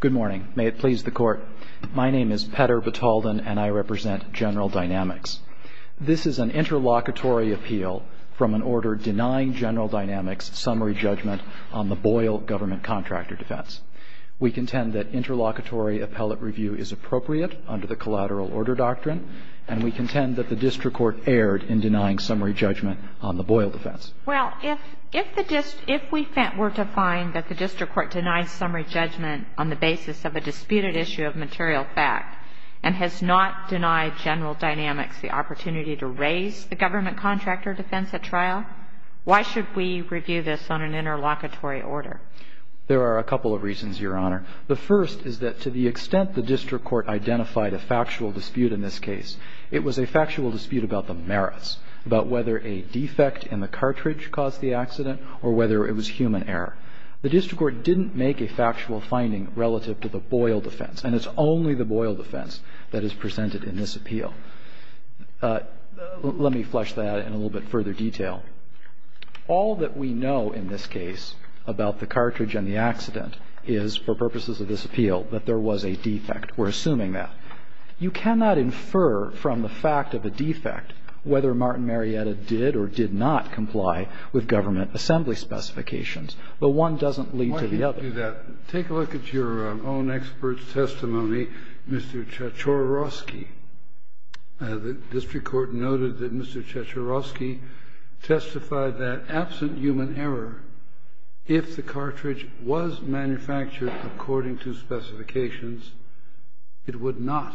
Good morning. May it please the court, my name is Petter Batalden and I represent General Dynamics. This is an interlocutory appeal from an order denying General Dynamics summary judgment on the Boyle government contractor defense. We contend that interlocutory appellate review is appropriate under the collateral order doctrine and we contend that the district court erred in denying summary judgment on the Boyle defense. Well, if we were to find that the district court denied summary judgment on the basis of a disputed issue of material fact and has not denied General Dynamics the opportunity to raise the government contractor defense at trial, why should we review this on an interlocutory order? There are a couple of reasons, Your Honor. The first is that to the extent the district court identified a factual dispute in this case, it was a factual dispute about the merits, about whether a district court didn't make a factual finding relative to the Boyle defense and it's only the Boyle defense that is presented in this appeal. Let me flesh that out in a little bit further detail. All that we know in this case about the cartridge and the accident is for purposes of this appeal that there was a defect. We're assuming that. You cannot infer from the fact of a defect whether Martin Marietta did or did not comply with government assembly specifications. But one doesn't lead to the other. Why do you do that? Take a look at your own expert's testimony, Mr. Chachorovsky. The district court noted that Mr. Chachorovsky testified that absent human error, if the cartridge was manufactured according to specifications, it would not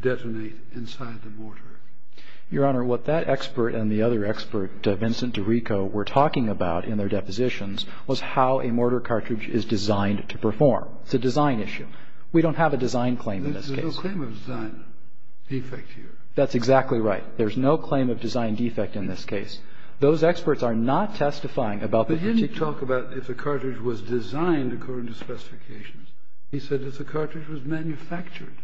detonate inside the mortar. Your Honor, what that expert and the other expert, Vincent DiRico, were talking about in their depositions was how a mortar cartridge is designed to perform. It's a design issue. We don't have a design claim in this case. There's no claim of design defect here. That's exactly right. There's no claim of design defect in this case. Those experts are not testifying about the particular But he didn't talk about if the cartridge was designed according to specifications. He said if the cartridge was manufactured.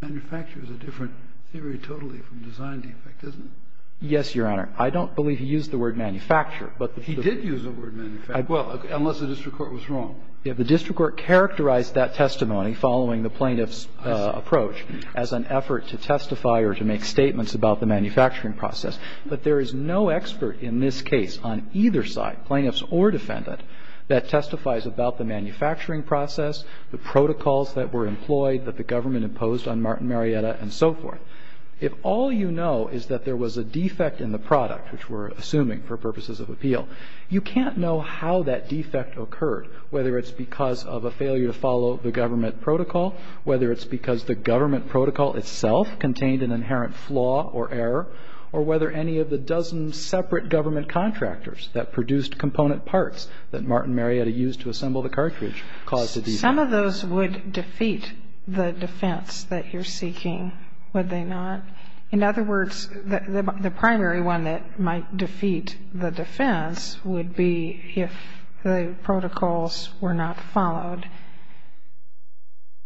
Manufacture is a different theory totally from design defect, isn't it? Yes, Your Honor. I don't believe he used the word manufacture. He did use the word manufacture, unless the district court was wrong. The district court characterized that testimony following the plaintiff's approach as an effort to testify or to make statements about the manufacturing process. But there is no expert in this case on either side, plaintiffs or defendant, that testifies about the manufacturing process, the protocols that were employed that the government imposed on Martin Marietta, and so forth. If all you know is that there was a defect in the product, which we're assuming for purposes of appeal, you can't know how that defect occurred, whether it's because of a failure to follow the government protocol, whether it's because the government protocol itself contained an inherent flaw or error, or whether any of the dozen separate government contractors that produced component parts that Martin Marietta used to assemble the cartridge caused the defect. Some of those would defeat the defense that you're seeking, would they not? In other words, the primary one that might defeat the defense would be if the protocols were not followed,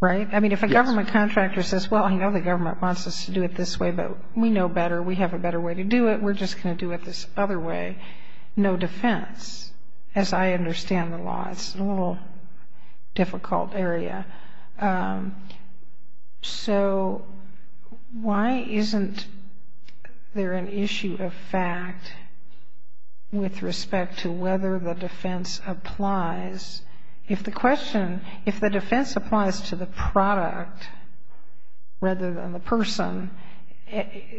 right? I mean, if a government contractor says, well, I know the government wants us to do it this way, but we know better, we have a better way to do it, we're just going to do it this other way. No defense, as I understand the law. It's a little difficult area. So why isn't there an issue of fact with respect to whether the defense applies? If the question, if the defense applies to the product rather than the person,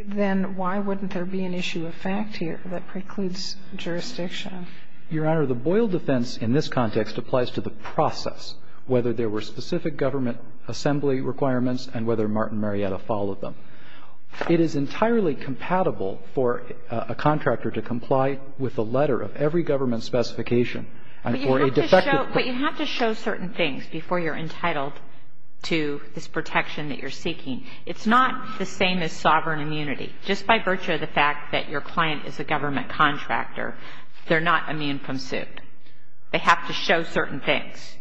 then why wouldn't there be an issue of fact here that precludes jurisdiction? Your Honor, the Boyle defense in this context applies to the process, whether there were specific government assembly requirements and whether Martin Marietta followed them. It is entirely compatible for a contractor to comply with the letter of every government specification and for a defective... But you have to show certain things before you're entitled to this protection that you're seeking. It's not the same as sovereign immunity. Just by virtue of the fact that your client is a government contractor, they're not immune from suit. They have to show certain things.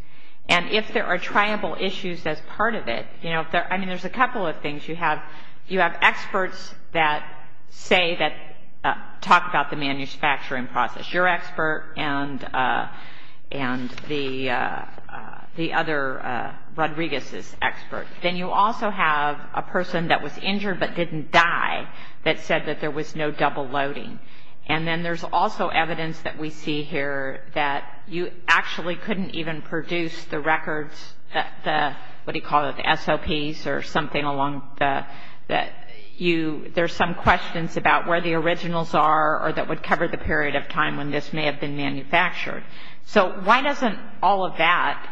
And if there are triumphal issues as part of it, you know, I mean, there's a couple of things. You have experts that say that, talk about the manufacturing process. You're expert and the other, Rodriguez is expert. Then you also have a person that was injured but didn't die that said that there was no double loading. And then there's also evidence that we see here that you actually couldn't even produce the records, the, what do you call it, the SOPs or something along the, that you, there's some questions about where the originals are or that would cover the period of time when this may have been manufactured. So why doesn't all of that,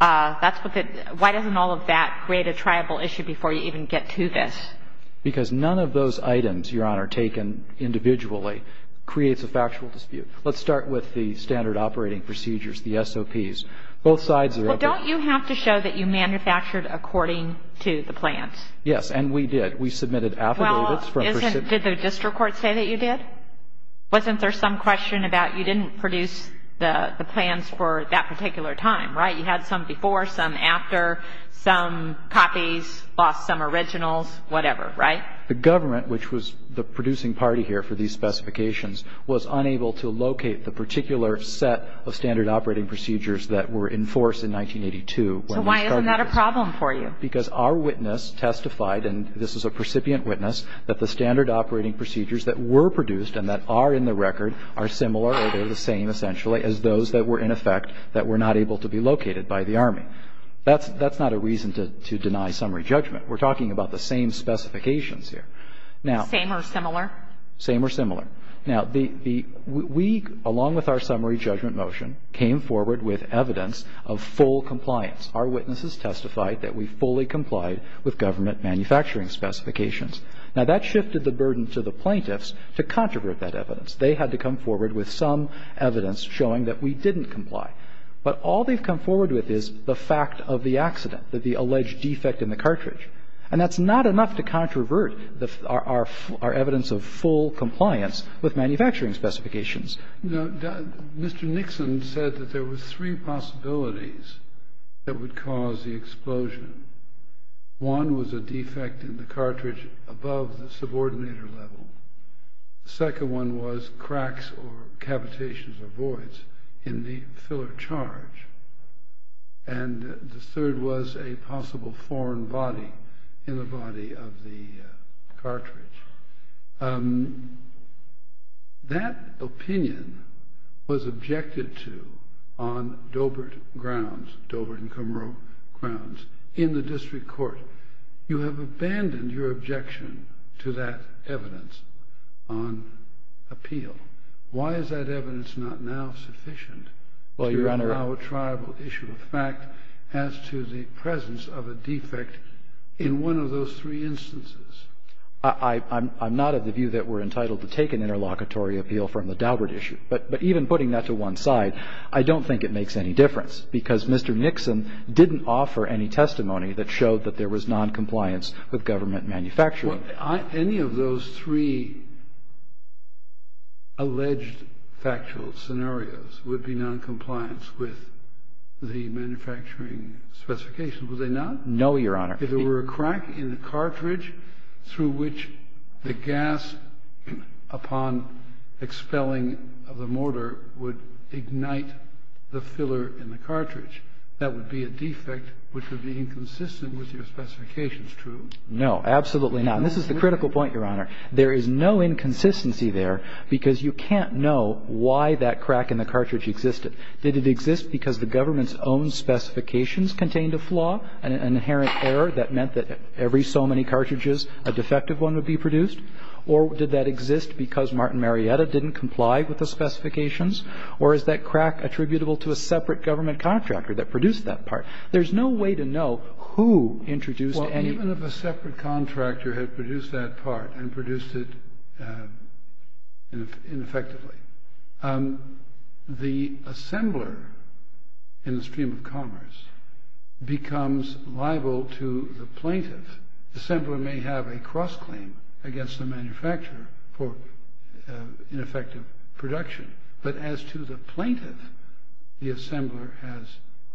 that's what the, why doesn't all of that create a triable issue before you even get to this? Because none of those items, Your Honor, taken individually creates a factual dispute. Let's start with the standard operating procedures, the SOPs. Both sides are... Well, don't you have to show that you manufactured according to the plans? Yes, and we did. We submitted affidavits from... Well, isn't, did the district court say that you did? Wasn't there some question about you didn't produce the plans for that particular time, right? You had some before, some after, some copies, lost some originals, whatever, right? The government, which was the producing party here for these specifications, was unable to locate the particular set of standard operating procedures that were in force in 1982 when we started... So why isn't that a problem for you? Because our witness testified, and this is a recipient witness, that the standard operating procedures that were produced and that are in the record are similar or they're the same essentially as those that were in effect that were not able to be located by the Army. That's not a reason to deny summary judgment. We're talking about the same specifications here. Same or similar? Same or similar. Now, we, along with our summary judgment motion, came forward with evidence of full compliance. Our witnesses testified that we fully complied with government manufacturing specifications. Now, that shifted the burden to the plaintiffs to controvert that evidence. They had to come forward with some evidence showing that we didn't comply. But all they've come forward with is the fact of the accident, that the alleged defect in the cartridge. And that's not enough to controvert our evidence of full compliance with manufacturing specifications. Now, Mr. Nixon said that there were three possibilities that would cause the explosion. One was a defect in the cartridge above the subordinator level. The second one was cracks or cavitations or voids in the filler charge. And the third was a possible foreign body in the body of the cartridge. That opinion was objected to on Dobert grounds, Dobert and Kummerow grounds. In the district court, you have abandoned your objection to that evidence on appeal. Why is that evidence not now sufficient to allow a tribal issue of fact as to the presence of a defect in one of those three instances? I'm not of the view that we're entitled to take an interlocutory appeal from the Dobert issue. But even putting that to one side, I don't think it makes any difference because Mr. Nixon didn't offer any testimony that showed that there was noncompliance with government manufacturing. Any of those three alleged factual scenarios would be noncompliance with the manufacturing specifications, would they not? No, Your Honor. If there were a crack in the cartridge through which the gas upon expelling of the mortar would ignite the filler in the cartridge, that would be a defect which would be inconsistent with your specifications, true? No, absolutely not. And this is the critical point, Your Honor. There is no inconsistency there because you can't know why that crack in the cartridge existed. Did it exist because the government's own specifications contained a flaw, an inherent error that meant that every so many cartridges, a defective one would be produced? Or did that exist because Martin Marietta didn't comply with the specifications? Or is that crack attributable to a separate government contractor that produced that part? There's no way to know who introduced any of it. Well, even if a separate contractor had produced that part and produced it ineffectively, the assembler in the stream of commerce becomes liable to the plaintiff. The assembler may have a cross-claim against the manufacturer for ineffective production. But as to the plaintiff, the assembler has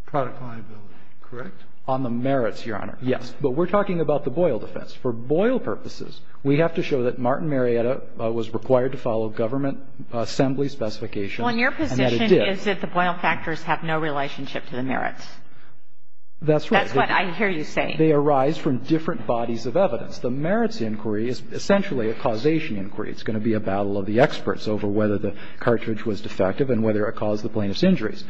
product liability, correct? On the merits, Your Honor, yes. But we're talking about the Boyle defense. For Boyle purposes, we have to show that Martin Marietta was required to follow government assembly specifications. Well, and your position is that the Boyle factors have no relationship to the merits. That's right. That's what I hear you saying. They arise from different bodies of evidence. The merits inquiry is essentially a causation inquiry. It's going to be a battle of the experts over whether the cartridge was defective and whether it caused the plaintiff's injuries.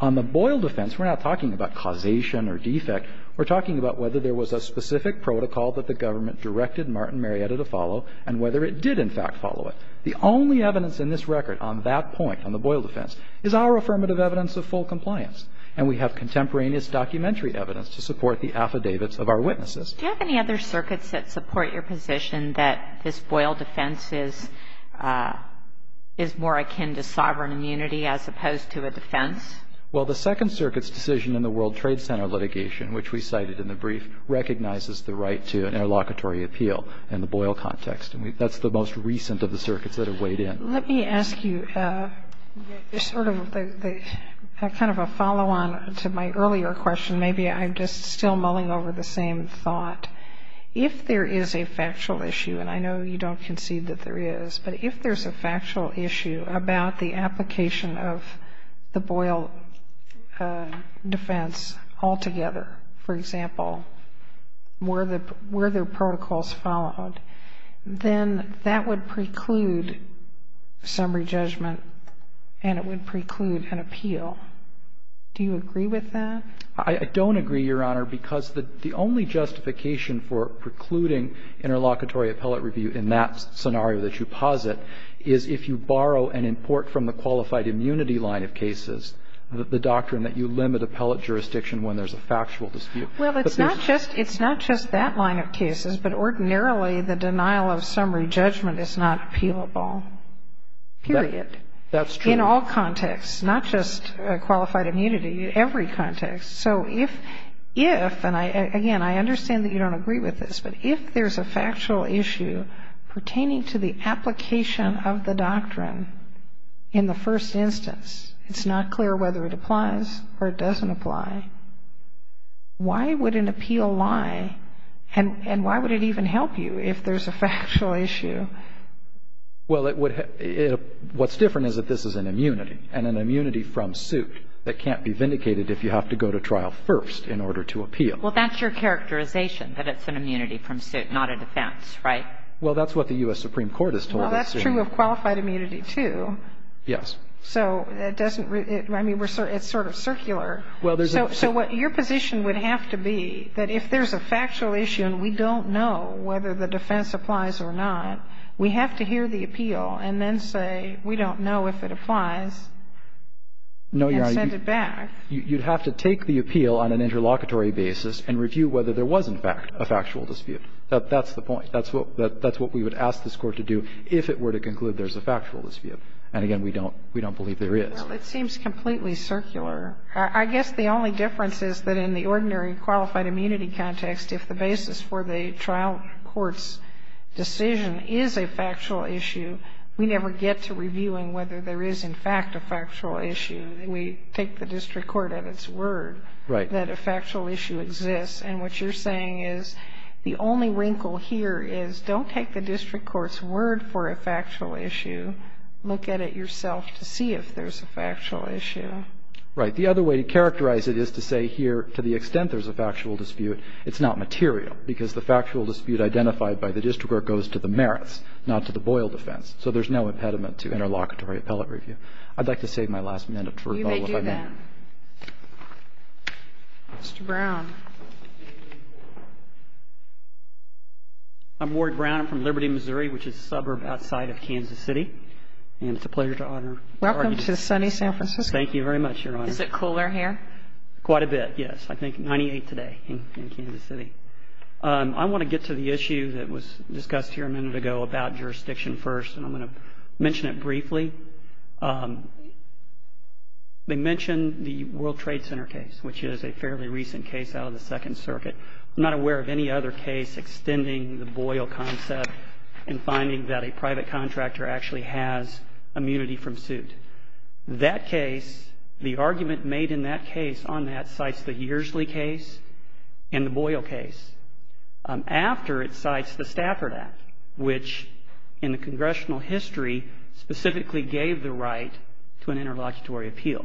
On the Boyle defense, we're not talking about causation or defect. We're talking about whether there was a specific protocol that the government directed Martin Marietta to follow and whether it did, in fact, follow it. The only evidence in this record on that point, on the Boyle defense, is our affirmative evidence of full compliance. And we have contemporaneous documentary evidence to support the affidavits of our witnesses. Do you have any other circuits that support your position that this Boyle defense is more akin to sovereign immunity as opposed to a defense? Well, the Second Circuit's decision in the World Trade Center litigation, which we cited in the brief, recognizes the right to an interlocutory appeal in the Boyle context. And that's the most recent of the circuits that have weighed in. Let me ask you sort of a kind of a follow-on to my earlier question. Maybe I'm just still mulling over the same thought. If there is a factual issue, and I know you don't concede that there is, but if there's a factual issue about the application of the Boyle defense altogether, for example, were there protocols followed, then that would preclude summary judgment and it would preclude an appeal. Do you agree with that? I don't agree, Your Honor, because the only justification for precluding interlocutory appellate review in that scenario that you posit is if you borrow and import from the qualified immunity line of cases the doctrine that you limit appellate jurisdiction when there's a factual dispute. Well, it's not just that line of cases, but ordinarily the denial of summary judgment is not appealable, period. That's true. In all contexts, not just qualified immunity, every context. So if, and again, I understand that you don't agree with this, but if there's a factual issue pertaining to the application of the doctrine in the first instance, it's not clear whether it applies or it doesn't apply, why would an appeal lie and why would it even help you if there's a factual issue? Well, it would, what's different is that this is an immunity and an immunity from suit that can't be vindicated if you have to go to trial first in order to appeal. Well, that's your characterization, that it's an immunity from suit, not a defense, right? Well, that's what the U.S. Supreme Court has told us. Well, that's true of qualified immunity, too. Yes. So it doesn't, I mean, it's sort of circular. Well, there's a So what your position would have to be that if there's a factual issue and we don't know whether the defense applies or not, we have to hear the appeal and then say, we don't know if it applies and send it back. No, Your Honor, you'd have to take the appeal on an interlocutory basis and review whether there was, in fact, a factual dispute. That's the point. That's what, that's what we would ask this Court to do if it were to conclude there's a factual dispute. And again, we don't, we don't believe there is. Well, it seems completely circular. I guess the only difference is that in the ordinary qualified immunity context, if the basis for the trial court's decision is a factual issue, we never get to reviewing whether there is, in fact, a factual issue. We take the district court at its word that a factual issue exists. And what you're saying is the only wrinkle here is don't take the district court's word for a factual issue. Look at it yourself to see if there's a factual issue. Right. The other way to characterize it is to say here to the extent there's a factual dispute, it's not material, because the factual dispute identified by the district court goes to the merits, not to the Boyle defense. So there's no impediment to interlocutory appellate review. I'd like to save my last minute for a moment. You may do that. Mr. Brown. I'm Ward Brown. I'm from Liberty, Missouri, which is a suburb outside of Kansas City. And it's a pleasure to honor. Welcome to sunny San Francisco. Thank you very much, Your Honor. Is it cooler here? Quite a bit, yes. I think 98 today in Kansas City. I want to get to the issue that was discussed here a minute ago about jurisdiction It's not a factual issue. It's not a factual issue. It's not a factual issue. It's not a factual issue. It's not a factual issue. I'm not aware of any other case extending the Boyle concept in finding that a private contractor actually has immunity from suit. That case, the argument made in that case on that, cites the Yearsly case and the Boyle case. After it cites the Stafford Act, which in the congressional history specifically gave the right to an interlocutory appeal.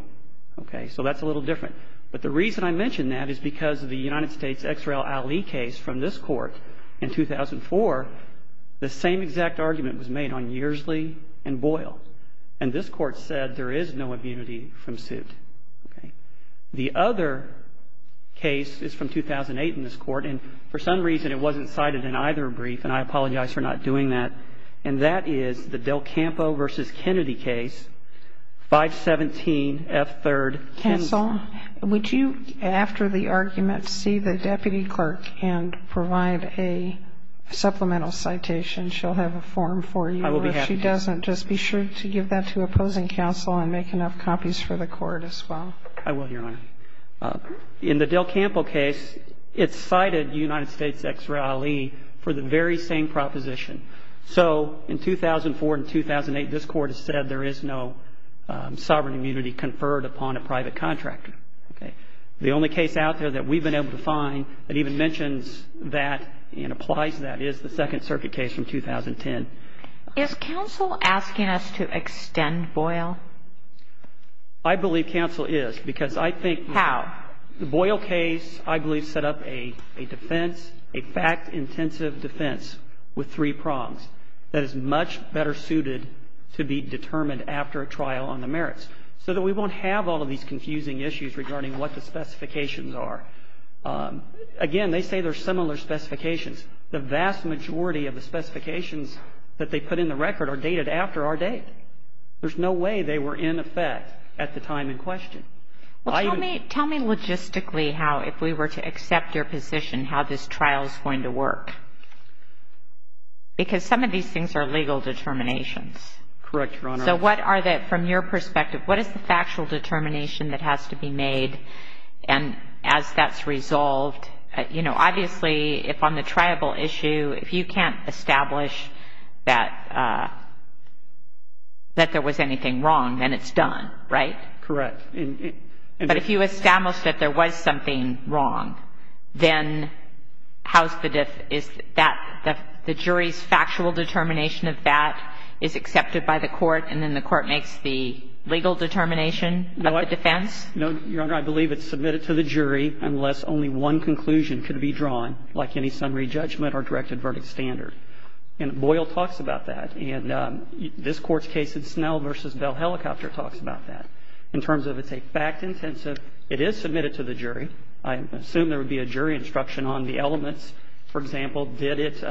Okay? So that's a little different. But the reason I mention that is because of the United States X. R. L. Ali case from this Court in 2004, the same exact argument was made on Yearsly and Boyle. And this Court said there is no immunity from suit. Okay? The other case is from 2008 in this Court, and for some reason it wasn't cited in either brief, and I apologize for not doing that, and that is the Del Campo v. Kennedy case, 517F3rd, Kennedy. Counsel, would you, after the argument, see the deputy clerk and provide a supplemental citation? She'll have a form for you. I will be happy to. Or if she doesn't, just be sure to give that to opposing counsel and make enough copies for the Court as well. I will, Your Honor. In the Del Campo case, it cited United States X. R. Ali for the very same proposition. So in 2004 and 2008, this Court has said there is no sovereign immunity conferred upon a private contractor. Okay? The only case out there that we've been able to find that even mentions that and applies to that is the Second Circuit case from 2010. Is counsel asking us to extend Boyle? I believe counsel is, because I think the Boyle case, I believe, set up a defense, a fact-intensive defense with three prongs that is much better suited to be determined after a trial on the merits so that we won't have all of these confusing issues regarding what the specifications are. Again, they say they're similar specifications. The vast majority of the specifications that they put in the record are dated after our date. There's no way they were in effect at the time in question. Well, tell me logistically how, if we were to accept your position, how this trial is going to work? Because some of these things are legal determinations. Correct, Your Honor. So what are the, from your perspective, what is the factual determination that has to be made? And as that's resolved, you know, obviously, if on the triable issue, if you can't establish that there was anything wrong, then it's done, right? Correct. But if you establish that there was something wrong, then how's the, is that, the jury's factual determination of that is accepted by the court, and then the court makes the legal determination of the defense? No, Your Honor. I believe it's submitted to the jury unless only one conclusion can be drawn, like any summary judgment or directed verdict standard. And Boyle talks about that, and this Court's case in Snell v. Bell Helicopter talks about that. In terms of it's a fact-intensive, it is submitted to the jury. I assume there would be a jury instruction on the elements. For example, did it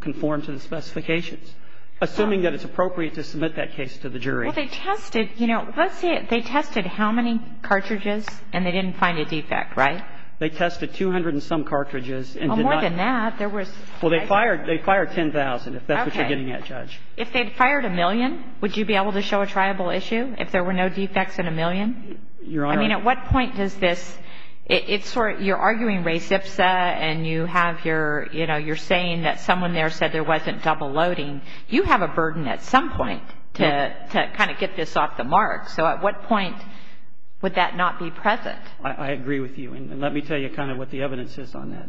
conform to the specifications? Assuming that it's appropriate to submit that case to the jury. Well, they tested, you know, let's say they tested how many cartridges and they didn't find a defect, right? They tested 200 and some cartridges and did not. Well, more than that, there was. Well, they fired 10,000, if that's what you're getting at, Judge. Okay. If they'd fired a million, would you be able to show a triable issue if there were no defects in a million? Your Honor. I mean, at what point does this, it's sort of, you're arguing res ipsa and you have your, you know, you're saying that someone there said there wasn't double loading. You have a burden at some point to kind of get this off the mark. So at what point would that not be present? I agree with you. And let me tell you kind of what the evidence is on that.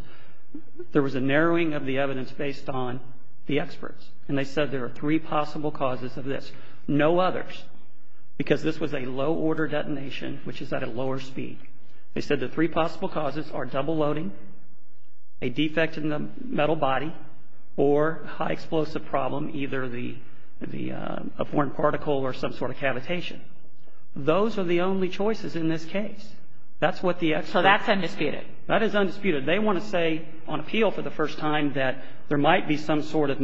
There was a narrowing of the evidence based on the experts. And they said there are three possible causes of this. No others. Because this was a low order detonation, which is at a lower speed. They said the three possible causes are double loading, a defect in the metal body, or high explosive problem, either the, a foreign particle or some sort of cavitation. Those are the only choices in this case. That's what the experts. So that's undisputed. That is undisputed. They want to say on appeal for the first time that there might be some sort of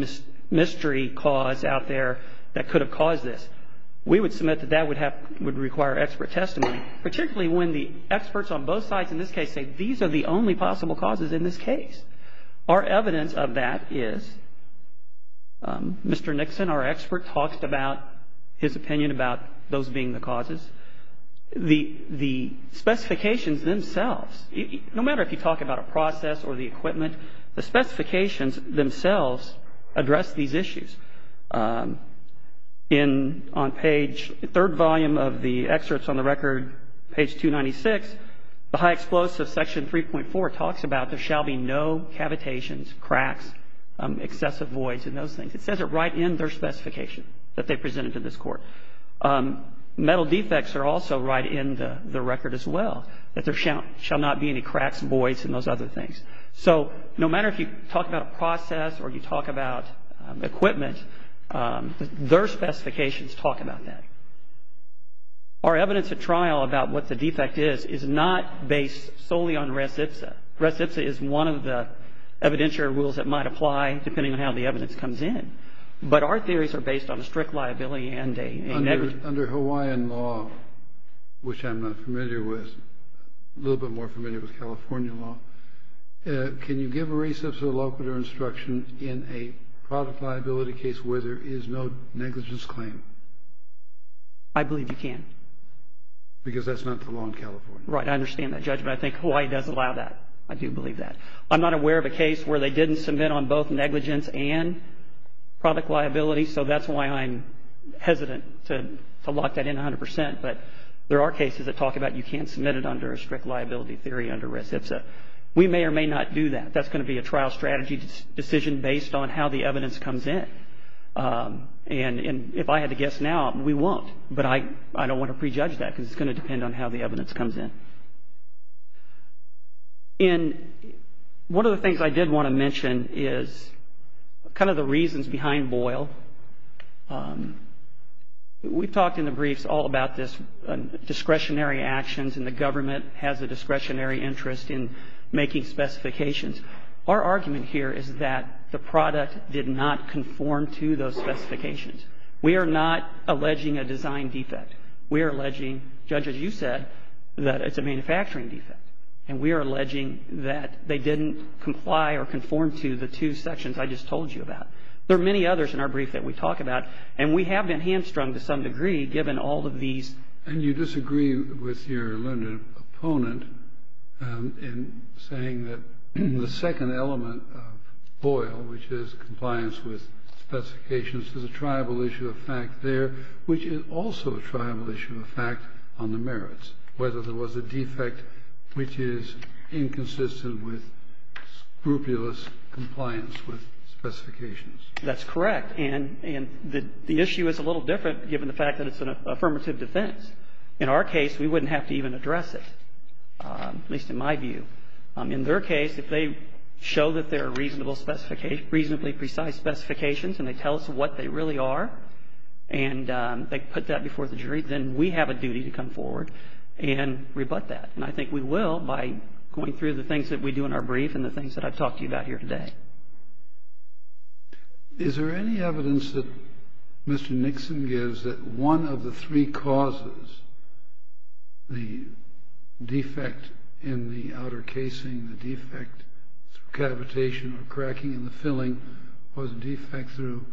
mystery cause out there that could have caused this. We would submit that that would have, would require expert testimony, particularly when the experts on both sides in this case say these are the only possible causes in this case. Our evidence of that is Mr. Nixon, our expert, talks about his opinion about those being the causes. The specifications themselves, no matter if you talk about a process or the equipment, the specifications themselves address these issues. In, on page, third volume of the excerpts on the record, page 296, the high explosive section 3.4 talks about there shall be no cavitations, cracks, excessive voids and those things. It says it right in their specification that they presented to this court. Metal defects are also right in the record as well, that there shall not be any cracks, voids and those other things. So no matter if you talk about a process or you talk about equipment, their specifications talk about that. Our evidence at trial about what the defect is is not based solely on res ipsa. Res ipsa is one of the evidentiary rules that might apply depending on how the evidence comes in. But our theories are based on a strict liability and a negligence. Under Hawaiian law, which I'm not familiar with, a little bit more familiar with California law, can you give a res ipsa locator instruction in a product liability case where there is no negligence claim? I believe you can. Because that's not the law in California. Right. I understand that judgment. I think Hawaii does allow that. I do believe that. I'm not aware of a case where they didn't submit on both negligence and product liability. So that's why I'm hesitant to lock that in 100%. But there are cases that talk about you can't submit it under a strict liability theory under res ipsa. We may or may not do that. That's going to be a trial strategy decision based on how the evidence comes in. And if I had to guess now, we won't. But I don't want to prejudge that because it's going to depend on how the evidence comes in. And one of the things I did want to mention is kind of the reasons behind Boyle. We've talked in the briefs all about this discretionary actions and the government has a discretionary interest in making specifications. Our argument here is that the product did not conform to those specifications. We are not alleging a design defect. We are alleging, Judge, as you said, that it's a manufacturing defect. And we are alleging that they didn't comply or conform to the two sections I just told you about. There are many others in our brief that we talk about. And we have been hamstrung to some degree given all of these. And you disagree with your learned opponent in saying that the second element of Boyle, which is compliance with specifications, there's a tribal issue of fact on the merits, whether there was a defect which is inconsistent with scrupulous compliance with specifications. That's correct. And the issue is a little different given the fact that it's an affirmative defense. In our case, we wouldn't have to even address it, at least in my view. In their case, if they show that there are reasonably precise specifications and they tell us what they really are and they put that before the jury, then we have a duty to come forward and rebut that. And I think we will by going through the things that we do in our brief and the things that I've talked to you about here today. Is there any evidence that Mr. Nixon gives that one of the three causes, the defect in the outer casing, the defect through cavitation or cracking in the casing, the defect through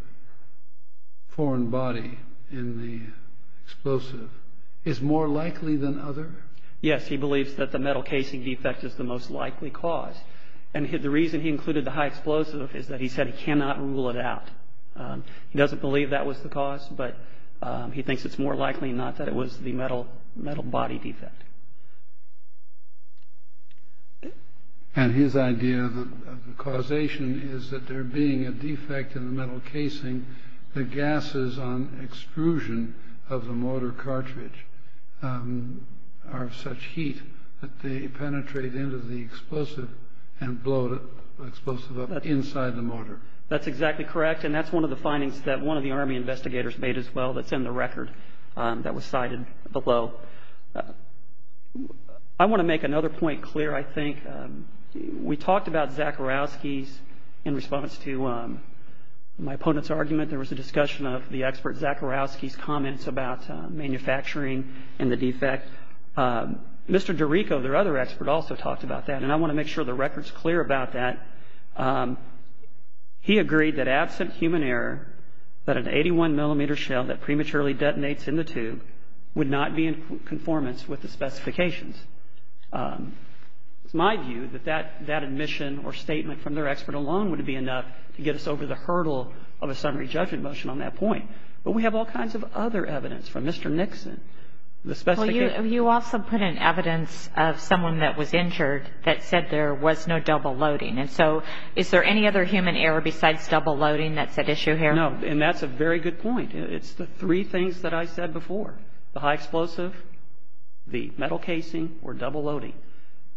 foreign body in the explosive, is more likely than other? Yes. He believes that the metal casing defect is the most likely cause. And the reason he included the high explosive is that he said he cannot rule it out. He doesn't believe that was the cause, but he thinks it's more likely not that it was the metal body defect. And his idea of the causation is that there being a defect in the metal casing, the gases on extrusion of the motor cartridge are of such heat that they penetrate into the explosive and blow the explosive up inside the motor. That's exactly correct, and that's one of the findings that one of the Army investigators made as well that's in the record that was cited below. I want to make another point clear, I think. We talked about Zakharovsky's, in response to my opponent's argument, there was a discussion of the expert Zakharovsky's comments about manufacturing and the defect. Mr. DeRico, their other expert, also talked about that, and I want to make sure the record's clear about that. He agreed that absent human error, that an 81-millimeter shell that prematurely goes into the explosion, is not the cause of the defect. So there is no double-loading, and that's a different issue in conformance with the specifications. It's my view that that admission or statement from their expert alone would be enough to get us over the hurdle of a summary judgment motion on that point. But we have all kinds of other evidence from Mr. Nixon. The specifications of the shell that prematurely goes into the explosion, is not the cause of the defect. The metal casing or double-loading,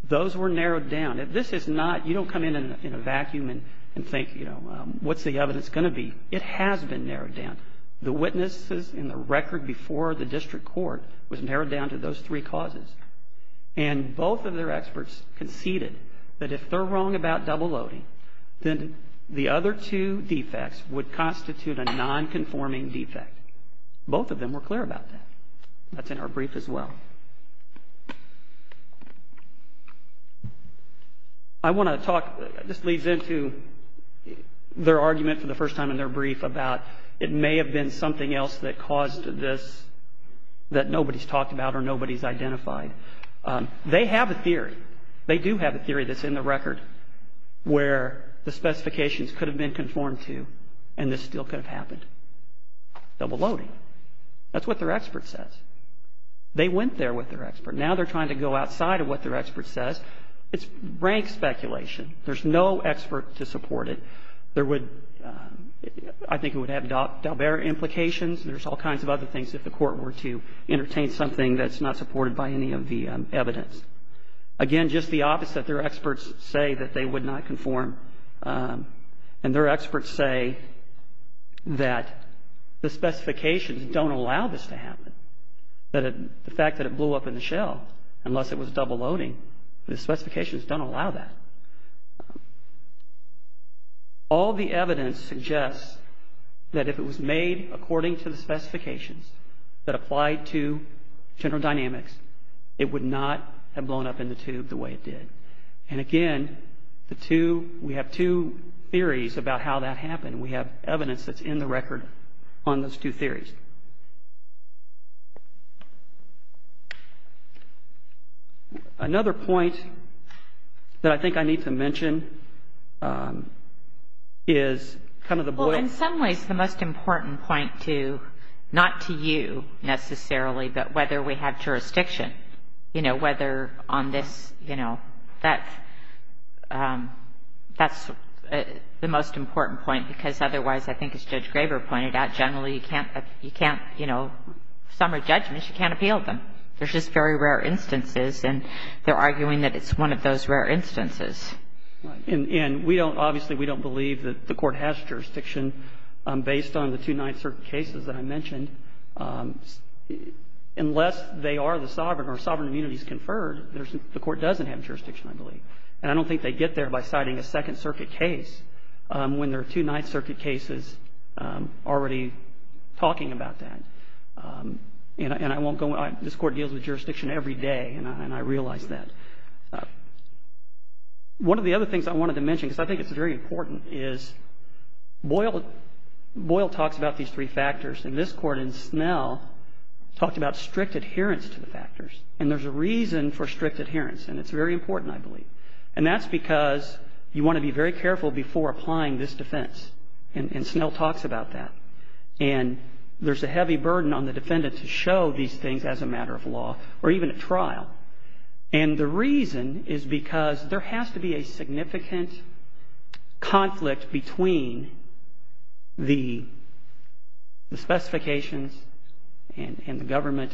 those were narrowed down. This is not, you don't come in in a vacuum and think, you know, what's the evidence going to be? It has been narrowed down. The witnesses and the record before the district court was narrowed down to those three causes. And both of their experts conceded that if they're wrong about double-loading, then the other two defects would constitute a non-conforming defect. Both of them were clear about that. That's in our brief as well. I want to talk, this leads into their argument for the first time in their brief about it may have been something else that caused this that nobody's talked about or nobody's identified. They have a theory. They do have a theory that's in the record where the specifications could have been conformed to and this still could have happened. Double-loading. That's what their expert says. They went there with their expert. Now they're trying to go outside of what their expert says. It's rank speculation. There's no expert to support it. There would, I think it would have Dalbert implications. There's all kinds of other things if the Court were to entertain something that's not supported by any of the evidence. Again, just the opposite. Their experts say that they would not conform. And their experts say that the specifications don't allow this to happen. The fact that it blew up in the shell, unless it was double-loading, the specifications don't allow that. All the evidence suggests that if it was made according to the specifications that applied to general dynamics, it would not have blown up in the tube the way it did. And, again, the two, we have two theories about how that happened. We have evidence that's in the record on those two theories. Another point that I think I need to mention is kind of the boil. Well, in some ways, the most important point to, not to you necessarily, but whether we have jurisdiction, you know, whether on this, you know, that's the most important point, because otherwise, I think as Judge Graber pointed out, generally you can't, you know, summary judgments, you can't appeal them. There's just very rare instances, and they're arguing that it's one of those rare instances. And we don't, obviously, we don't believe that the Court has jurisdiction based on the two Ninth Circuit cases that I mentioned. Unless they are the sovereign or sovereign immunities conferred, the Court doesn't have jurisdiction, I believe. And I don't think they get there by citing a Second Circuit case when there are two Ninth Circuit cases already talking about that. And I won't go on. This Court deals with jurisdiction every day, and I realize that. One of the other things I wanted to mention, because I think it's very important, is Boyle talks about these three factors. And this Court in Snell talked about strict adherence to the factors. And there's a reason for strict adherence, and it's very important, I believe. And that's because you want to be very careful before applying this defense. And Snell talks about that. And there's a heavy burden on the defendant to show these things as a matter of law or even at trial. And the reason is because there has to be a significant conflict between the specifications and the government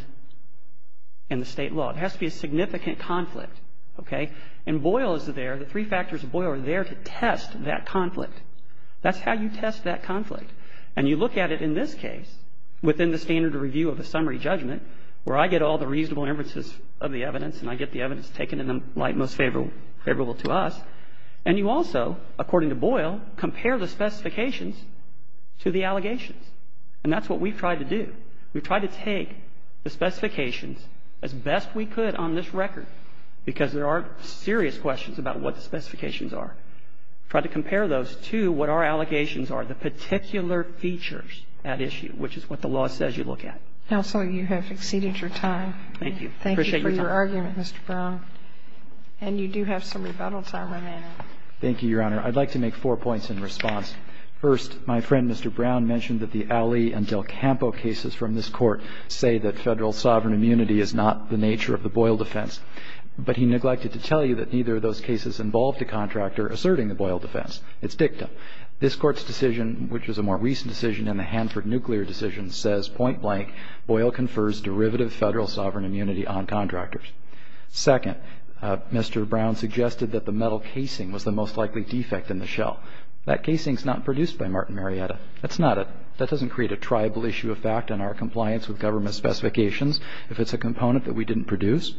and the state law. It has to be a significant conflict. Okay? And Boyle is there. The three factors of Boyle are there to test that conflict. That's how you test that conflict. And you look at it in this case, within the standard review of the summary judgment, where I get all the reasonable inferences of the evidence and I get the evidence taken in the light most favorable to us. And you also, according to Boyle, compare the specifications to the allegations. And that's what we've tried to do. We've tried to take the specifications as best we could on this record, because there are serious questions about what the specifications are. We've tried to compare those to what our allegations are, the particular features at issue, which is what the law says you look at. Now, counsel, you have exceeded your time. Thank you. Appreciate your time. Thank you for your argument, Mr. Brown. And you do have some rebuttals. I'll run that out. Thank you, Your Honor. I'd like to make four points in response. First, my friend Mr. Brown mentioned that the Allee and Del Campo cases from this Court say that Federal sovereign immunity is not the nature of the Boyle defense. But he neglected to tell you that neither of those cases involved a contractor asserting the Boyle defense. It's dicta. This Court's decision, which is a more recent decision in the Hanford nuclear decision, says point blank, Boyle confers derivative Federal sovereign immunity on contractors. Second, Mr. Brown suggested that the metal casing was the most likely defect in the shell. That casing is not produced by Martin Marietta. That's not it. That doesn't create a tribal issue of fact in our compliance with government specifications if it's a component that we didn't produce.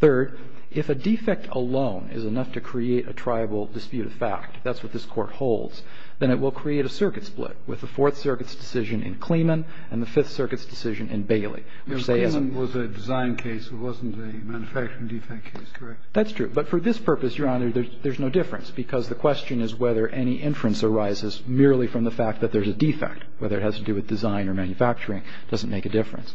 Third, if a defect alone is enough to create a tribal dispute of fact, that's what this Court holds, then it will create a circuit split. With the Fourth Circuit's decision in Clemen and the Fifth Circuit's decision in Bailey, which say as a design case, it wasn't a manufacturing defect case, correct? That's true. But for this purpose, Your Honor, there's no difference because the question is whether any inference arises merely from the fact that there's a defect, whether it has to do with design or manufacturing. It doesn't make a difference.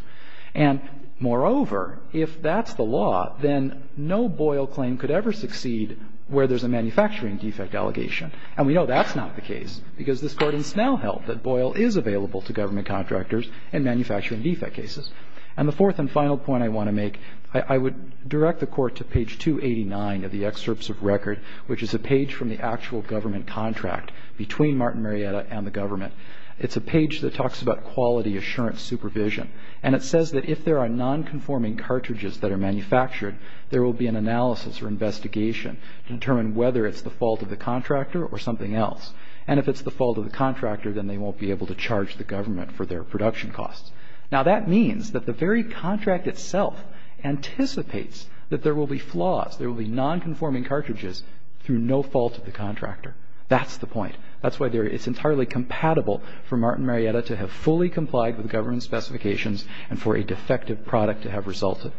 And moreover, if that's the law, then no Boyle claim could ever succeed where there's a manufacturing defect allegation. And we know that's not the case because this Court has now held that Boyle is available to government contractors in manufacturing defect cases. And the fourth and final point I want to make, I would direct the Court to page 289 of the excerpts of record, which is a page from the actual government contract between Martin Marietta and the government. It's a page that talks about quality assurance supervision, and it says that if there are nonconforming cartridges that are manufactured, there will be an analysis or investigation to determine whether it's the fault of the contractor or something else. And if it's the fault of the contractor, then they won't be able to charge the government for their production costs. Now, that means that the very contract itself anticipates that there will be flaws, there will be nonconforming cartridges through no fault of the contractor. That's the point. That's why it's entirely compatible for Martin Marietta to have fully complied with government specifications and for a defective product to have resulted.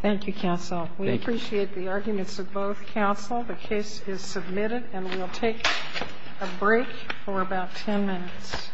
Thank you, Counsel. Thank you. I appreciate the arguments of both counsel. The case is submitted, and we'll take a break for about 10 minutes.